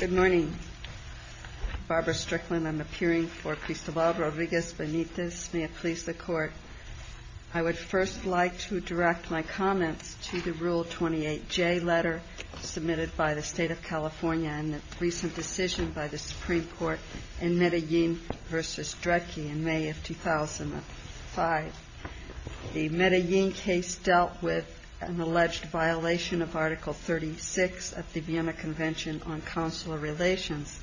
Good morning. Barbara Strickland. I'm appearing for Cristobal Rodriguez Benitez. May it please the Court. I would first like to direct my comments to the Rule 28J letter submitted by the State of California and the recent decision by the Supreme Court in Medellin v. Dredge in May of 2005. The Medellin case dealt with an alleged violation of Article 36 of the Vienna Convention on Consular Relations.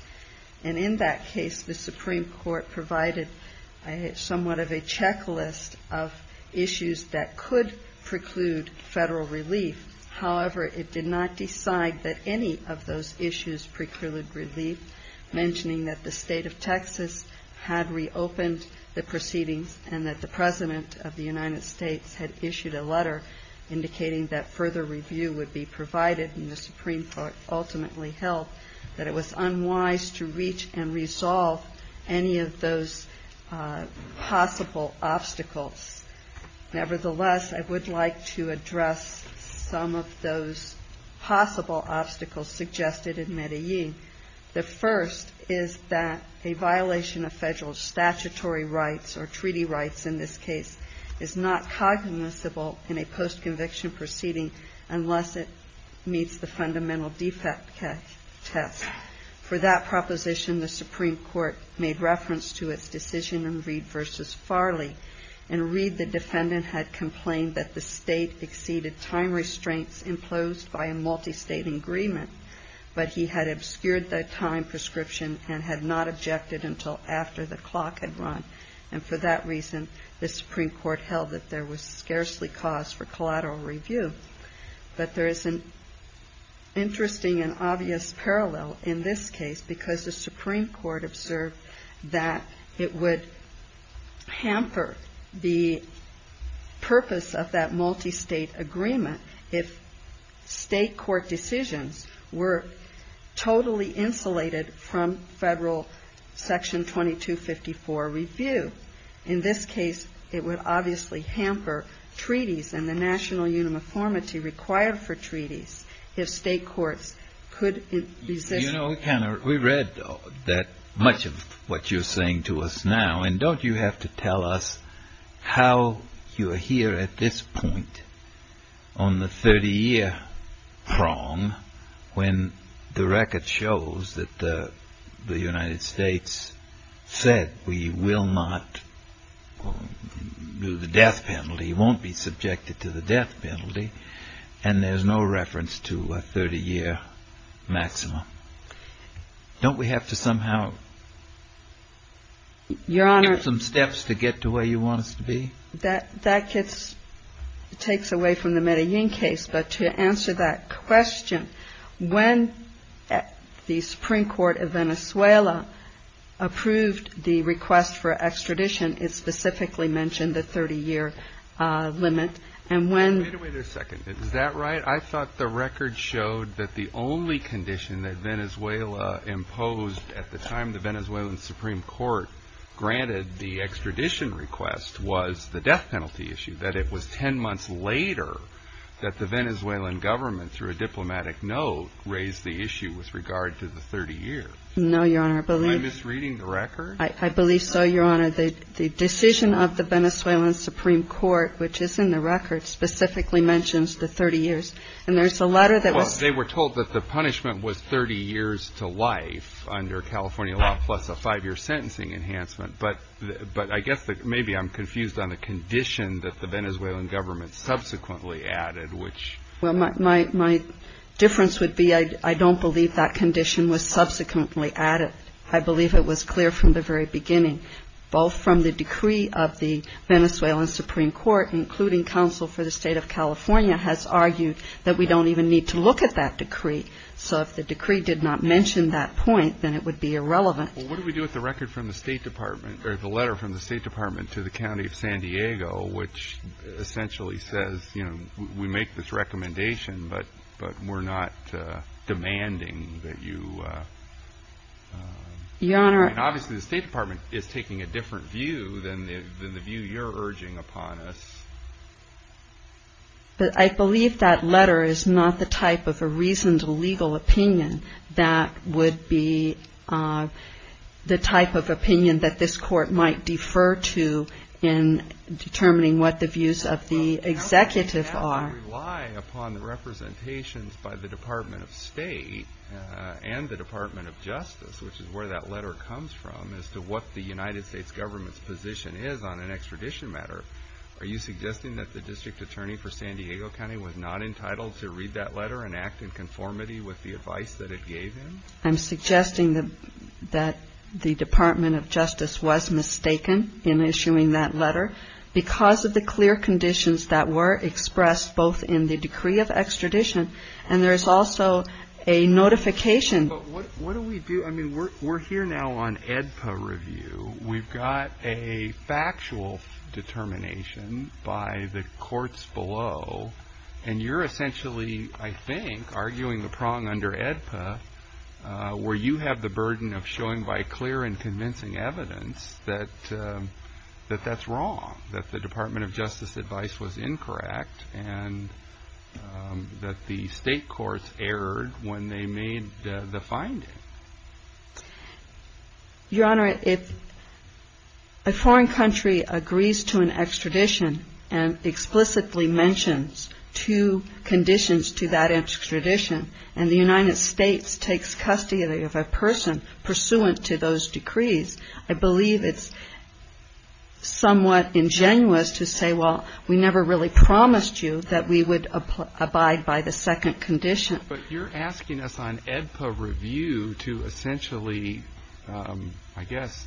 And in that case, the Supreme Court provided somewhat of a checklist of issues that could preclude federal relief. However, it did not decide that any of those issues precluded relief, mentioning that the State of Texas had reopened the proceedings and that the President of the United States had issued a letter indicating that further review would be provided, and the Supreme Court ultimately held that it was unwise to reach and resolve any of those possible obstacles. Nevertheless, I would like to address some of those possible obstacles suggested in Medellin. The first is that a violation of federal statutory rights, or treaty rights in this case, is not cognizable in a post-conviction proceeding unless it meets the fundamental defect test. For that proposition, the Supreme Court made reference to its decision in Reed v. Farley. In Reed, the defendant had complained that the State exceeded time restraints imposed by a multistate agreement, but he had obscured the time prescription and had not objected until after the clock had run. And for that reason, the Supreme Court held that there was scarcely cause for collateral review. But there is an interesting and obvious parallel in this case, because the Supreme Court observed that it would hamper the purpose of that multistate agreement if State court decisions were totally insulated from federal Section 2254 review. In this case, it would obviously hamper treaties and the national uniformity required for treaties if State courts could resist. You know, we read much of what you're saying to us now, and don't you have to tell us how you are here at this point on the 30-year prong when the record shows that the United States said we will not do the death penalty, won't be subjected to the death penalty, and there's no reference to a 30-year maximum? Don't we have to somehow take some steps to get to where you want us to be? That gets, takes away from the Medellin case. But to answer that question, when the Supreme Court of Venezuela approved the request for extradition, it specifically mentioned the 30-year limit. And when Wait a second. Is that right? I thought the record showed that the only condition that Venezuela imposed at the time the Venezuelan Supreme Court granted the extradition request was the death penalty issue, that it was 10 months later that the Venezuelan government, through a diplomatic note, raised the issue with regard to the 30 years. No, Your Honor. I believe Am I misreading the record? I believe so, Your Honor. The decision of the Venezuelan Supreme Court, which is in the record, specifically mentions the 30 years. And there's a letter that was Well, they were told that the punishment was 30 years to life under California law, plus a five-year sentencing enhancement. But I guess maybe I'm confused on the condition that the Venezuelan government subsequently added, which Well, my difference would be I don't believe that condition was subsequently added. I believe it was clear from the very beginning, both from the decree of the Venezuelan Supreme Court, including counsel for the State of California, has argued that we don't even need to look at that decree. So if the decree did not mention that point, then it would be irrelevant. Well, what do we do with the record from the State Department, or the letter from the State Department to the county of San Diego, which essentially says, you know, we make this recommendation, but we're not demanding that you Your Honor I mean, obviously, the State Department is taking a different view than the view you're urging upon us. But I believe that letter is not the type of a reasoned legal opinion that would be the type of opinion that this Court might defer to in determining what the views of the executive are. Well, we have to rely upon the representations by the Department of State and the Department of Justice, which is where that letter comes from, as to what the United States government's on an extradition matter. Are you suggesting that the district attorney for San Diego County was not entitled to read that letter and act in conformity with the advice that it gave him? I'm suggesting that the Department of Justice was mistaken in issuing that letter because of the clear conditions that were expressed both in the decree of extradition, and there is also a notification But what do we do? I mean, we're here now on AEDPA review. We've got a factual determination by the courts below, and you're essentially, I think, arguing the prong under AEDPA, where you have the burden of showing by clear and convincing evidence that that's wrong, that the Department of Justice advice was incorrect, and that the state courts erred when they made the finding. Your Honor, if a foreign country agrees to an extradition and explicitly mentions two conditions to that extradition, and the United States takes custody of a person pursuant to those decrees, I believe it's somewhat ingenuous to say, well, we never really promised you that we would abide by the second condition. But you're asking us on AEDPA review to essentially, I guess,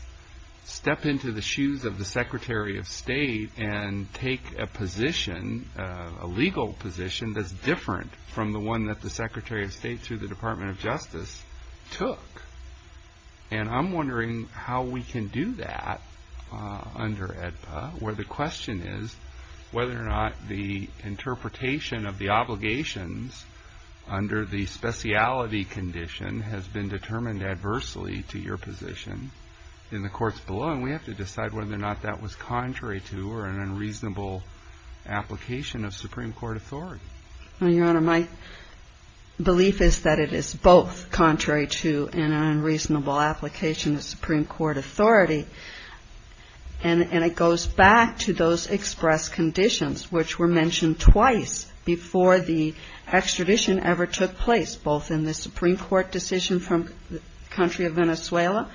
step into the shoes of the Secretary of State and take a position, a legal position, that's different from the one that the Secretary of State, through the Department of Justice, took. And I'm wondering how we can do that under AEDPA, where the question is whether or not the interpretation of the obligations under the speciality condition has been determined adversely to your position in the courts below. And we have to decide whether or not that was contrary to or an unreasonable application of Supreme Court authority. Well, Your Honor, my belief is that it is both contrary to and an unreasonable application of Supreme Court authority, and it goes back to those express conditions which were mentioned twice before the extradition ever took place, both in the Supreme Court decision from the country of Venezuela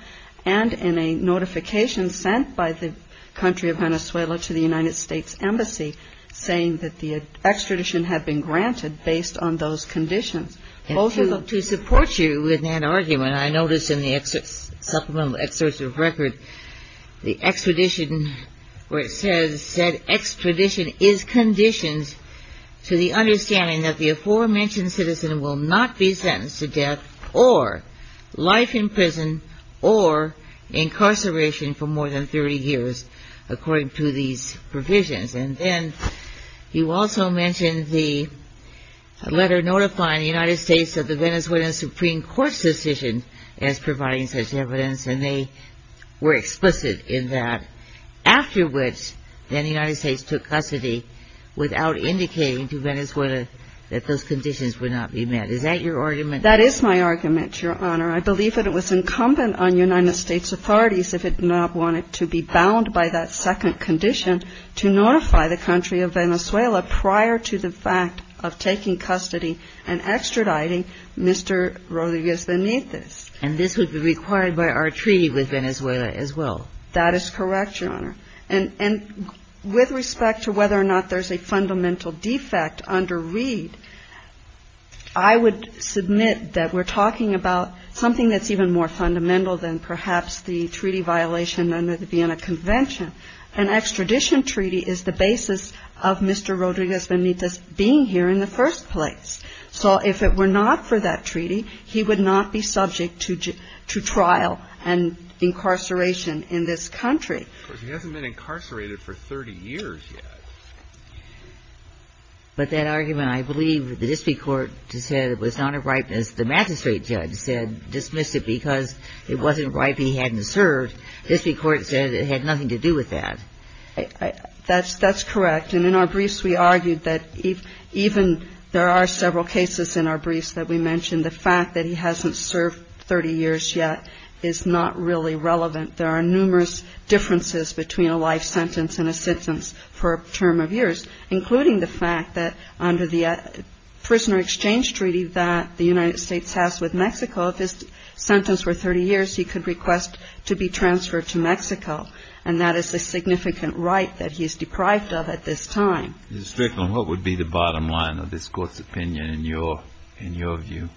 and in a notification sent by the country of Venezuela to the United States Embassy saying that the extradition had been granted based on those conditions. Also, to support you with that argument, I noticed in the supplemental excerpt of the record, the extradition where it says, said, extradition is conditioned to the understanding that the aforementioned citizen will not be sentenced to death or life in prison or incarceration for more than 30 years according to these provisions. And then you also mentioned the letter notifying the United States of the Venezuelan Supreme Court's decision as providing such evidence, and they were explicit in that, after which then the United States took custody without indicating to Venezuela that those conditions would not be met. Is that your argument? That is my argument, Your Honor. I believe that it was incumbent on United States authorities, if it did not want it to be bound by that second condition, to notify the country of Venezuela prior to the fact of taking custody and extraditing Mr. Rodríguez Benítez. And this would be required by our treaty with Venezuela as well? That is correct, Your Honor. And with respect to whether or not there's a fundamental defect under Reed, I would submit that we're talking about something that's even more fundamental than perhaps the treaty violation under the Vienna Convention. An extradition treaty is the basis of Mr. Rodríguez Benítez being here in the first place. So if it were not for that treaty, he would not be subject to trial and incarceration in this country. Of course, he hasn't been incarcerated for 30 years yet. But that argument, I believe the district court said it was not a right, as the magistrate judge said, dismissed it because it wasn't right that he hadn't served. The district court said it had nothing to do with that. That's correct. And in our briefs, we argued that even there are several cases in our briefs that we mentioned the fact that he hasn't served 30 years yet is not really relevant. There are numerous differences between a life sentence and a sentence for a term of years, including the fact that under the prisoner exchange treaty that the United States has with Mexico, if his sentence were 30 years, he could request to be transferred to Mexico. And that is a significant right that he is deprived of at this time. Mr. Strickland, what would be the bottom line of this court's opinion in your view?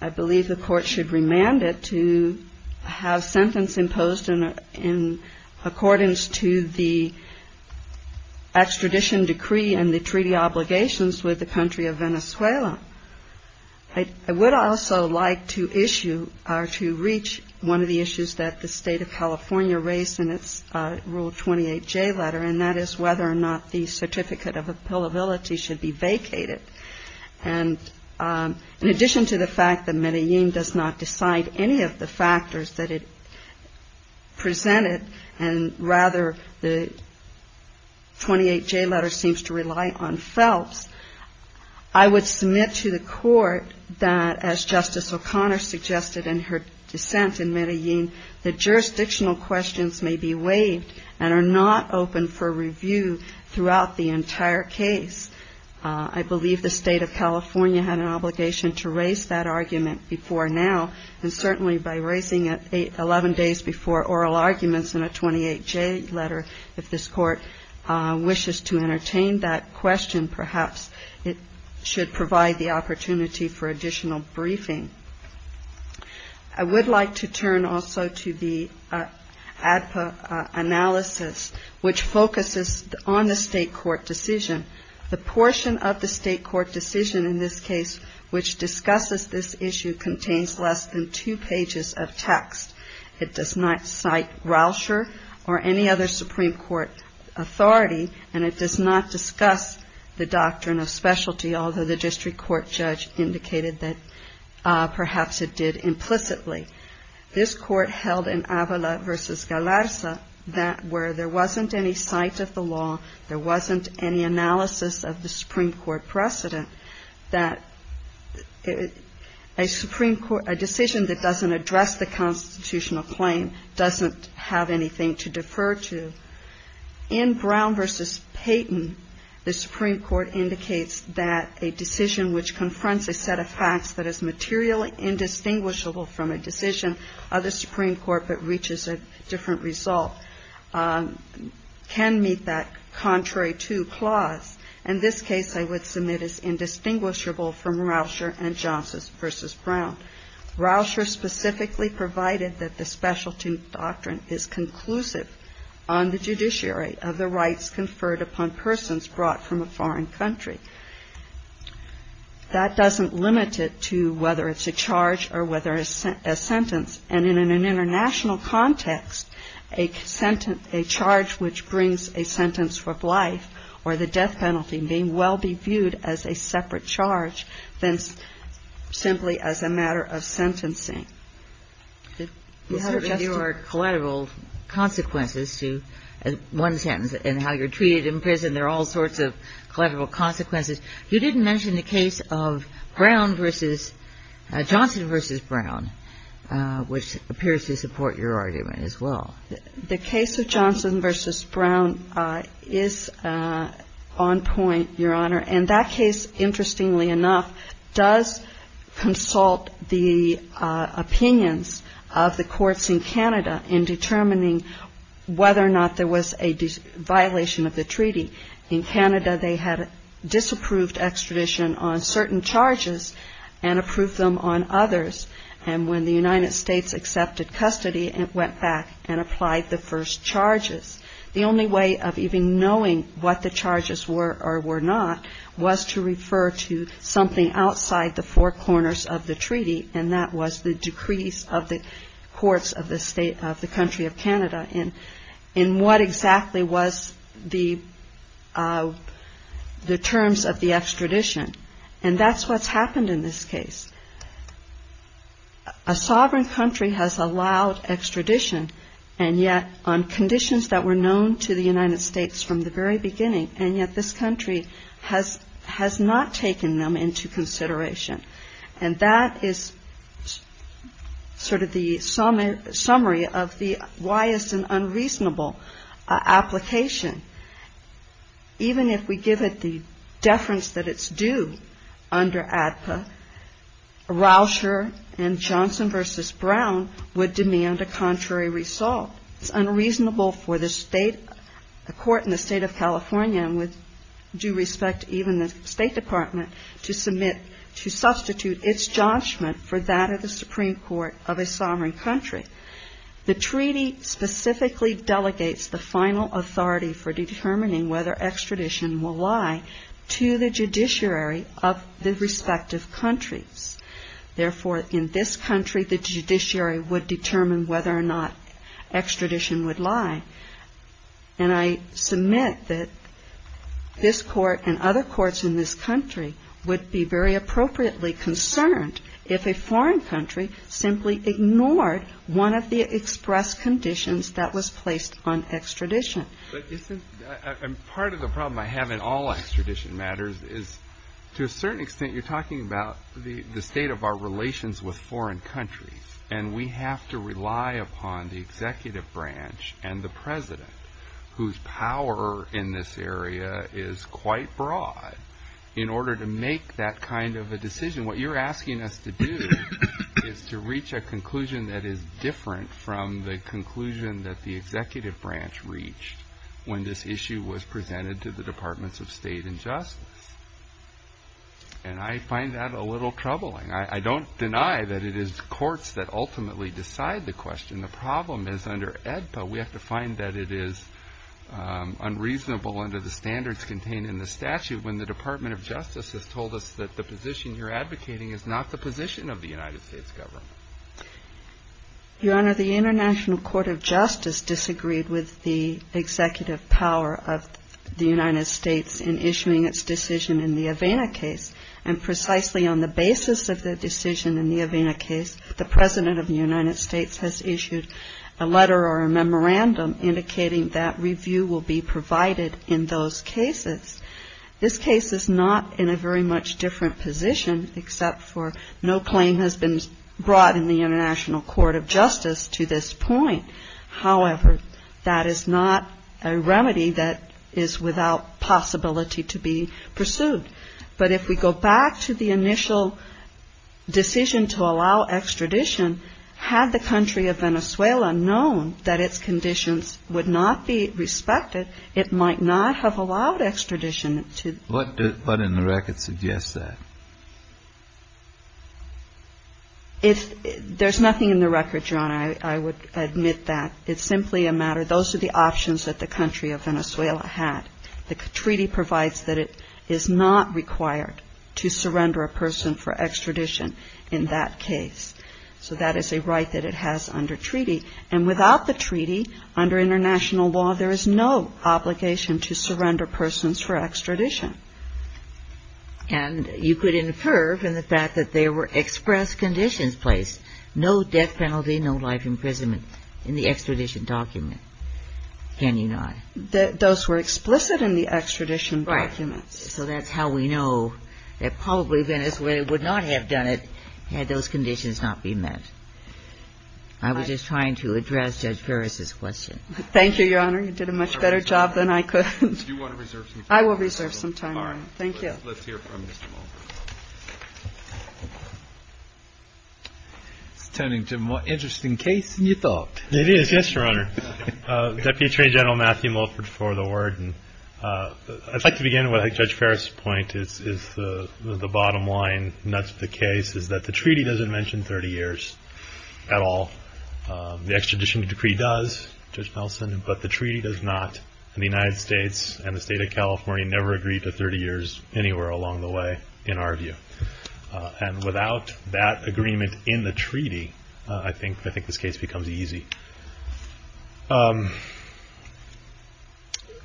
I believe the court should remand it to have sentence imposed in accordance to the extradition decree and the treaty obligations with the country of Venezuela. I would also like to issue or to reach one of the issues that the state of California raised in its Rule 28J letter, and that is whether or not the certificate of appealability should be vacated. And in addition to the fact that Medellin does not decide any of the factors that it presented, and rather the 28J letter seems to rely on Phelps, I would submit to the court that, as Justice O'Connor suggested in her dissent in Medellin, that jurisdictional questions may be waived and are not open for review throughout the entire case. I believe the state of California had an obligation to raise that argument before now, and certainly by raising it 11 days before oral arguments in a 28J letter, if this court wishes to entertain that question, perhaps it should provide the opportunity for additional briefing. I would like to turn also to the ADPA analysis, which focuses on the state court decision. The portion of the state court decision in this case which discusses this issue contains less than two pages of text. It does not cite Rauscher or any other Supreme Court authority, and it does not discuss the doctrine of specialty, although the district court judge indicated that perhaps it did implicitly. This court held in Avala v. Galarza that where there is an analysis of the Supreme Court precedent, that a decision that doesn't address the constitutional claim doesn't have anything to defer to. In Brown v. Payton, the Supreme Court indicates that a decision which confronts a set of facts that is materially indistinguishable from a decision of the Supreme Court but reaches a different result can meet that contrary to clause. In this case, I would submit as indistinguishable from Rauscher and Johnson v. Brown. Rauscher specifically provided that the specialty doctrine is conclusive on the judiciary of the rights conferred upon persons brought from a foreign country. That doesn't limit it to whether it's a charge or whether it's a sentence. And in an international context, a sentence – a charge which brings a sentence for life or the death penalty may well be viewed as a separate charge than simply as a matter of sentencing. You had a question? Kagan. There are collateral consequences to one sentence, and how you're treated in prison, there are all sorts of collateral consequences. You didn't mention the case of Brown v. – Johnson v. Brown, which appears to support your argument as well. The case of Johnson v. Brown is on point, Your Honor. And that case, interestingly enough, does consult the opinions of the courts in Canada in determining whether or not there was a violation of the treaty. In Canada, they had disapproved extradition on certain charges and approved them on others. And when the United States accepted custody, it went back and applied the first charges. The only way of even knowing what the charges were or were not was to refer to something outside the four corners of the treaty, and that was the decrees of the courts of the country of Canada in what exactly was the terms of the extradition. And that's what's happened in this case. A sovereign country has allowed extradition, and yet on conditions that were known to the United States from the very beginning, and yet this country has not taken them into consideration. And that is sort of the summary of the why is an unreasonable application. Even if we give it the deference that it's due under ADPA, Rauscher and Johnson v. Brown would demand a contrary result. It's unreasonable for the state, a court in the United States, to substitute its judgment for that of the Supreme Court of a sovereign country. The treaty specifically delegates the final authority for determining whether extradition will lie to the judiciary of the respective countries. Therefore, in this country, the judiciary would determine whether or not extradition would lie. And I submit that this court and other courts in this country would be very appropriately concerned if a foreign country simply ignored one of the express conditions that was placed on extradition. Part of the problem I have in all extradition matters is, to a certain extent, you're talking about the state of our relations with foreign countries. And we have to rely upon the executive branch and the president, whose power in this area is quite broad, in order to make that kind of a decision. What you're asking us to do is to reach a conclusion that is different from the conclusion that the executive branch reached when this issue was presented to the Departments of State and Justice. And I find that a little troubling. I don't deny that it is courts that ultimately decide the question. The problem is, under ADPA, we have to find that it is unreasonable under the standards contained in the statute when the Department of Justice has told us that the position you're advocating is not the position of the United States government. Your Honor, the International Court of Justice disagreed with the executive power of the United States in issuing its decision in the Avena case. And precisely on the basis of the decision in the Avena case, the President of the United States has issued a letter or those cases. This case is not in a very much different position, except for no claim has been brought in the International Court of Justice to this point. However, that is not a remedy that is without possibility to be pursued. But if we go back to the initial decision to allow extradition, had the country of Venezuela known that its conditions would not be respected, it might not have allowed extradition to the country of Venezuela. What in the record suggests that? There's nothing in the record, Your Honor. I would admit that. It's simply a matter of those are the options that the country of Venezuela had. The treaty provides that it is not required to surrender a person for extradition in that case. So that is a right that it has under treaty. And without the treaty, under international law, there is no obligation to surrender persons for extradition. And you could infer from the fact that there were express conditions placed, no death penalty, no life imprisonment, in the extradition document, can you not? Those were explicit in the extradition documents. Right. So that's how we know that probably Venezuela would not have done it had those conditions not been met. I was just trying to address Judge Ferris' question. Thank you, Your Honor. You did a much better job than I could. Do you want to reserve some time? I will reserve some time, Your Honor. Thank you. All right. Let's hear from Mr. Mulford. It's turning to a more interesting case than you thought. It is. Yes, Your Honor. Deputy Attorney General Matthew Mulford for the Word. And I'd like to begin with Judge Ferris' point is the bottom line, and that's the case, is that the treaty doesn't mention 30 years at all. The extradition decree does, Judge Nelson, but the treaty does not. And the United States and the State of California never agreed to 30 years anywhere along the way in our view. And without that agreement in the treaty, I think this case becomes easy.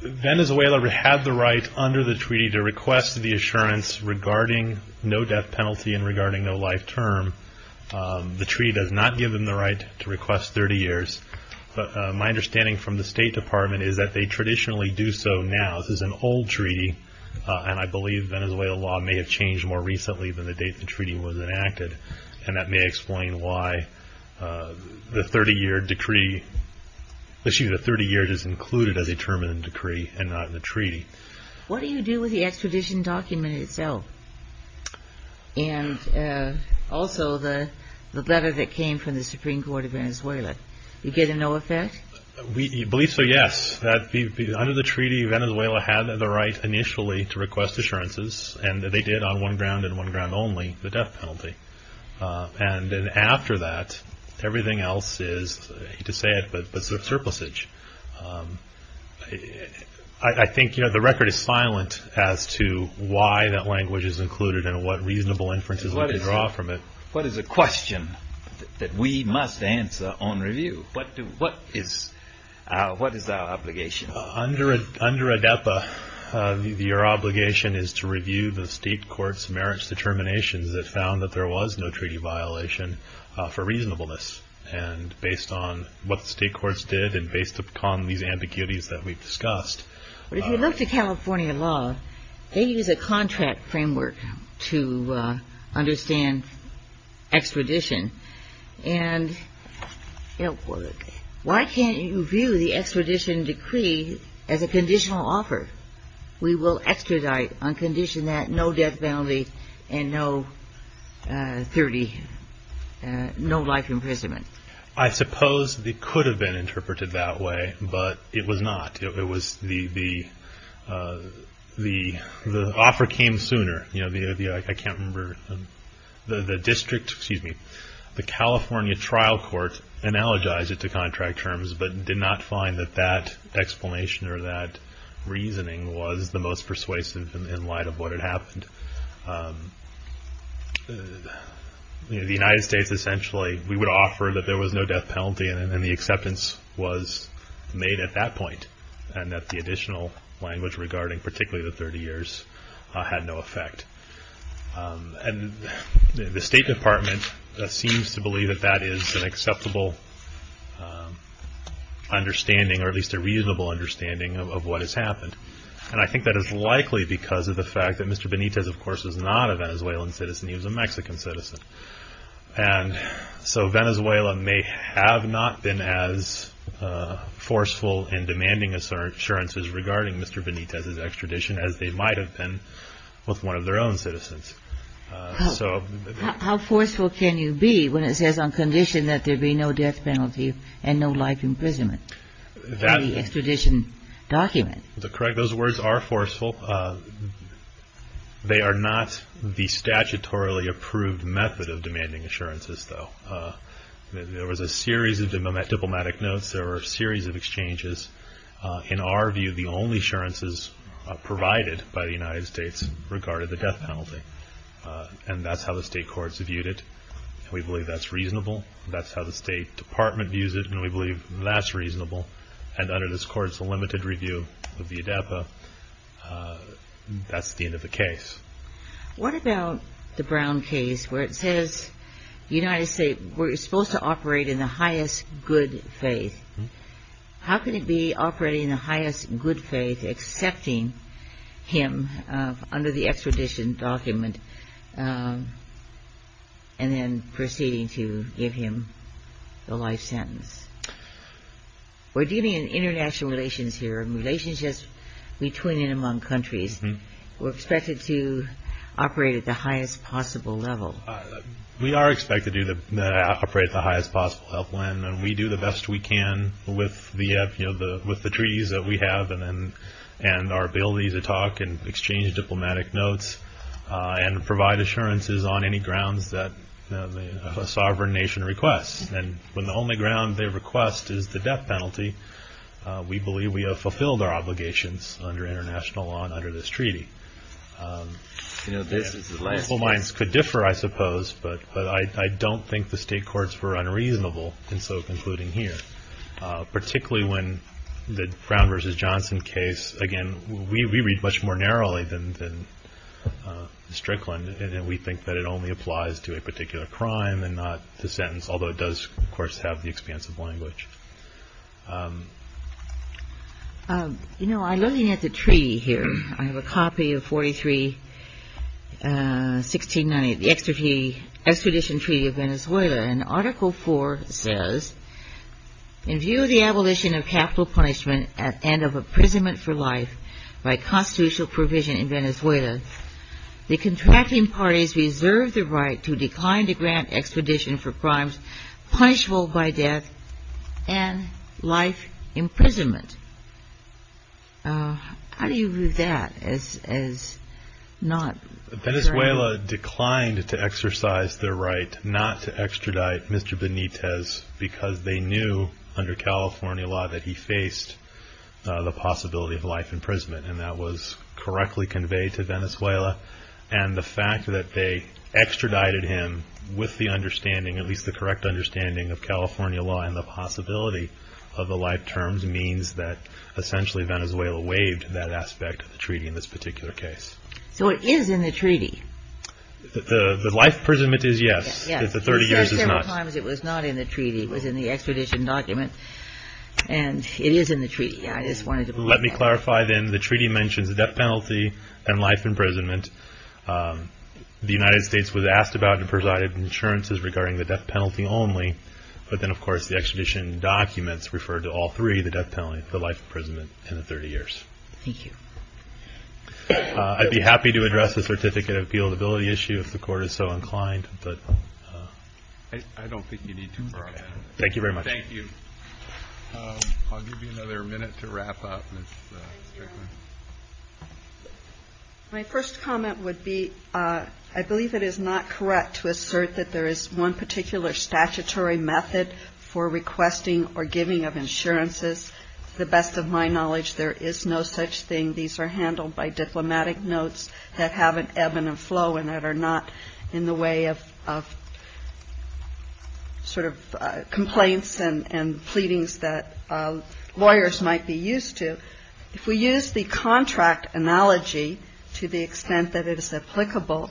Venezuela had the right under the treaty to request the assurance regarding no death penalty and regarding no life term. The treaty does not give them the right to request 30 years. But my understanding from the State Department is that they traditionally do so now. This is an old treaty, and I believe Venezuelan law may have changed more recently than the date the treaty was enacted. And that may explain why the 30-year decree – excuse me, the 30 years is included as a term in the decree and not in the treaty. What do you do with the extradition document itself and also the letter that came from the Supreme Court of Venezuela? You get a no effect? We believe so, yes. Under the treaty, Venezuela had the right initially to request assurances, and they did on one ground and one ground only, the death penalty. And then after that, everything else is, I hate to say it, but surplusage. I think, you know, the record is silent as to why that language is included and what reasonable inferences we can draw from it. What is a question that we must answer on review? What is our obligation? Under ADEPA, your obligation is to review the state court's merits determinations that found that there was no treaty violation for reasonableness. And based on what the state courts did and based upon these ambiguities that we've discussed. But if you look to California law, they use a contract framework to understand extradition. And, you know, why can't you view the extradition decree as a conditional offer? We will extradite on condition that no death penalty and no life imprisonment. I suppose it could have been interpreted that way, but it was not. It was the offer came sooner. You know, I can't remember, the district, excuse me, the California trial court analogized it to contract terms, but did not find that that explanation or that reasoning was the case. The United States essentially, we would offer that there was no death penalty and the acceptance was made at that point. And that the additional language regarding particularly the 30 years had no effect. And the State Department seems to believe that that is an acceptable understanding or at least a reasonable understanding of what has happened. And I think that is likely because of the fact that Mr. Benitez, of course, is not a Venezuelan citizen. He was a Mexican citizen. And so Venezuela may have not been as forceful in demanding assurances regarding Mr. Benitez's extradition as they might have been with one of their own citizens. How forceful can you be when it says on condition that there be no death penalty and no life imprisonment in the extradition document? Correct, those words are forceful. They are not the statutorily approved method of demanding assurances though. There was a series of diplomatic notes, there were a series of exchanges. In our view, the only assurances provided by the United States regarded the death penalty. And that's how the state courts viewed it. We believe that's reasonable. That's how the State Department views it and we believe that's reasonable. And under this court, it's a limited review of the ADAPA. That's the end of the case. What about the Brown case where it says the United States is supposed to operate in the highest good faith. How can it be operating in the highest good faith, accepting him under the extradition document and then proceeding to give him the life sentence? We're dealing in international relations here and relationships between and among countries. We're expected to operate at the highest possible level. We are expected to operate at the highest possible level and we do the best we can with the treaties that we have and our ability to talk and exchange diplomatic notes and provide assurances on any grounds that a sovereign nation requests. And when the only ground they request is the death penalty, we believe we have fulfilled our obligations under international law and under this treaty. You know, this is the last case. People's minds could differ, I suppose, but I don't think the state courts were unreasonable in so concluding here, particularly when the Brown v. Johnson case, again, we read much more narrowly than Strickland and we think that it only applies to a particular crime and not the sentence, although it does, of course, have the expanse of language. You know, I'm looking at the treaty here. I have a copy of 43-1690, the extradition treaty of Venezuela and Article 4 says, in view of the abolition of capital punishment and of imprisonment for life by constitutional provision in Venezuela, the contracting parties reserve the right to decline to grant extradition for crimes punishable by death and life imprisonment. How do you view that as not? Venezuela declined to exercise their right not to extradite Mr. Benitez because they knew under California law that he faced the possibility of life imprisonment and that was correctly conveyed to Venezuela and the fact that they extradited him with the understanding, at least the correct understanding, of California law and the possibility of the life terms means that essentially Venezuela waived that aspect of the treaty in this particular case. So it is in the treaty. The life imprisonment is yes, if the 30 years is not. Yes. We've said several times it was not in the treaty. It was in the extradition document and it is in the treaty. I just wanted to point that out. Let me clarify then the treaty mentions death penalty and life imprisonment. The United States was asked about and provided insurances regarding the death penalty only but then of course the extradition documents refer to all three, the death penalty, the life imprisonment, and the 30 years. Thank you. I'd be happy to address the certificate of appeal ability issue if the court is so inclined. I don't think you need to. Thank you very much. Thank you. I'll give you another minute to wrap up. My first comment would be I believe it is not correct to assert that there is one particular statutory method for requesting or giving of insurances. The best of my knowledge there is no such thing. These are handled by diplomatic notes that have an ebb and a flow and that are not in the way of sort of complaints and pleadings that lawyers might be used to. If we use the contract analogy to the extent that it is applicable,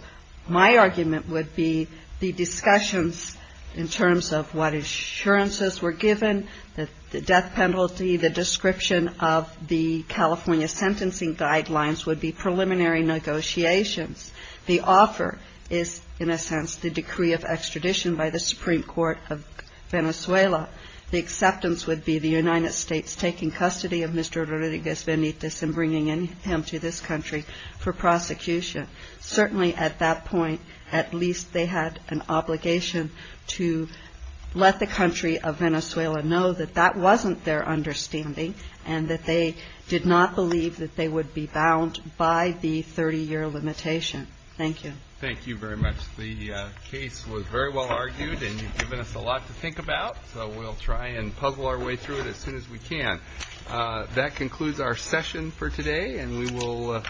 my argument would be the discussions in terms of what insurances were given, the death penalty, the description of the California sentencing guidelines would be preliminary negotiations. The offer is, in a sense, the decree of extradition by the Supreme Court of Venezuela. The acceptance would be the United States taking custody of Mr. Rodriguez Benitez and bringing him to this country for prosecution. Certainly at that point, at least they had an obligation to let the country of Venezuela know that that wasn't their understanding and that they did not believe that they would be bound by the 30-year limitation. Thank you. Thank you very much. The case was very well argued and you've given us a lot to think about, so we'll try and puzzle our way through it as soon as we can. That concludes our session for today and we will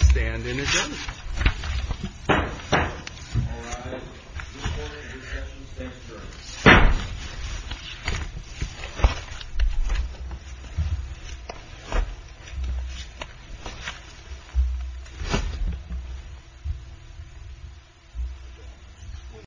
stand in again. Thank you.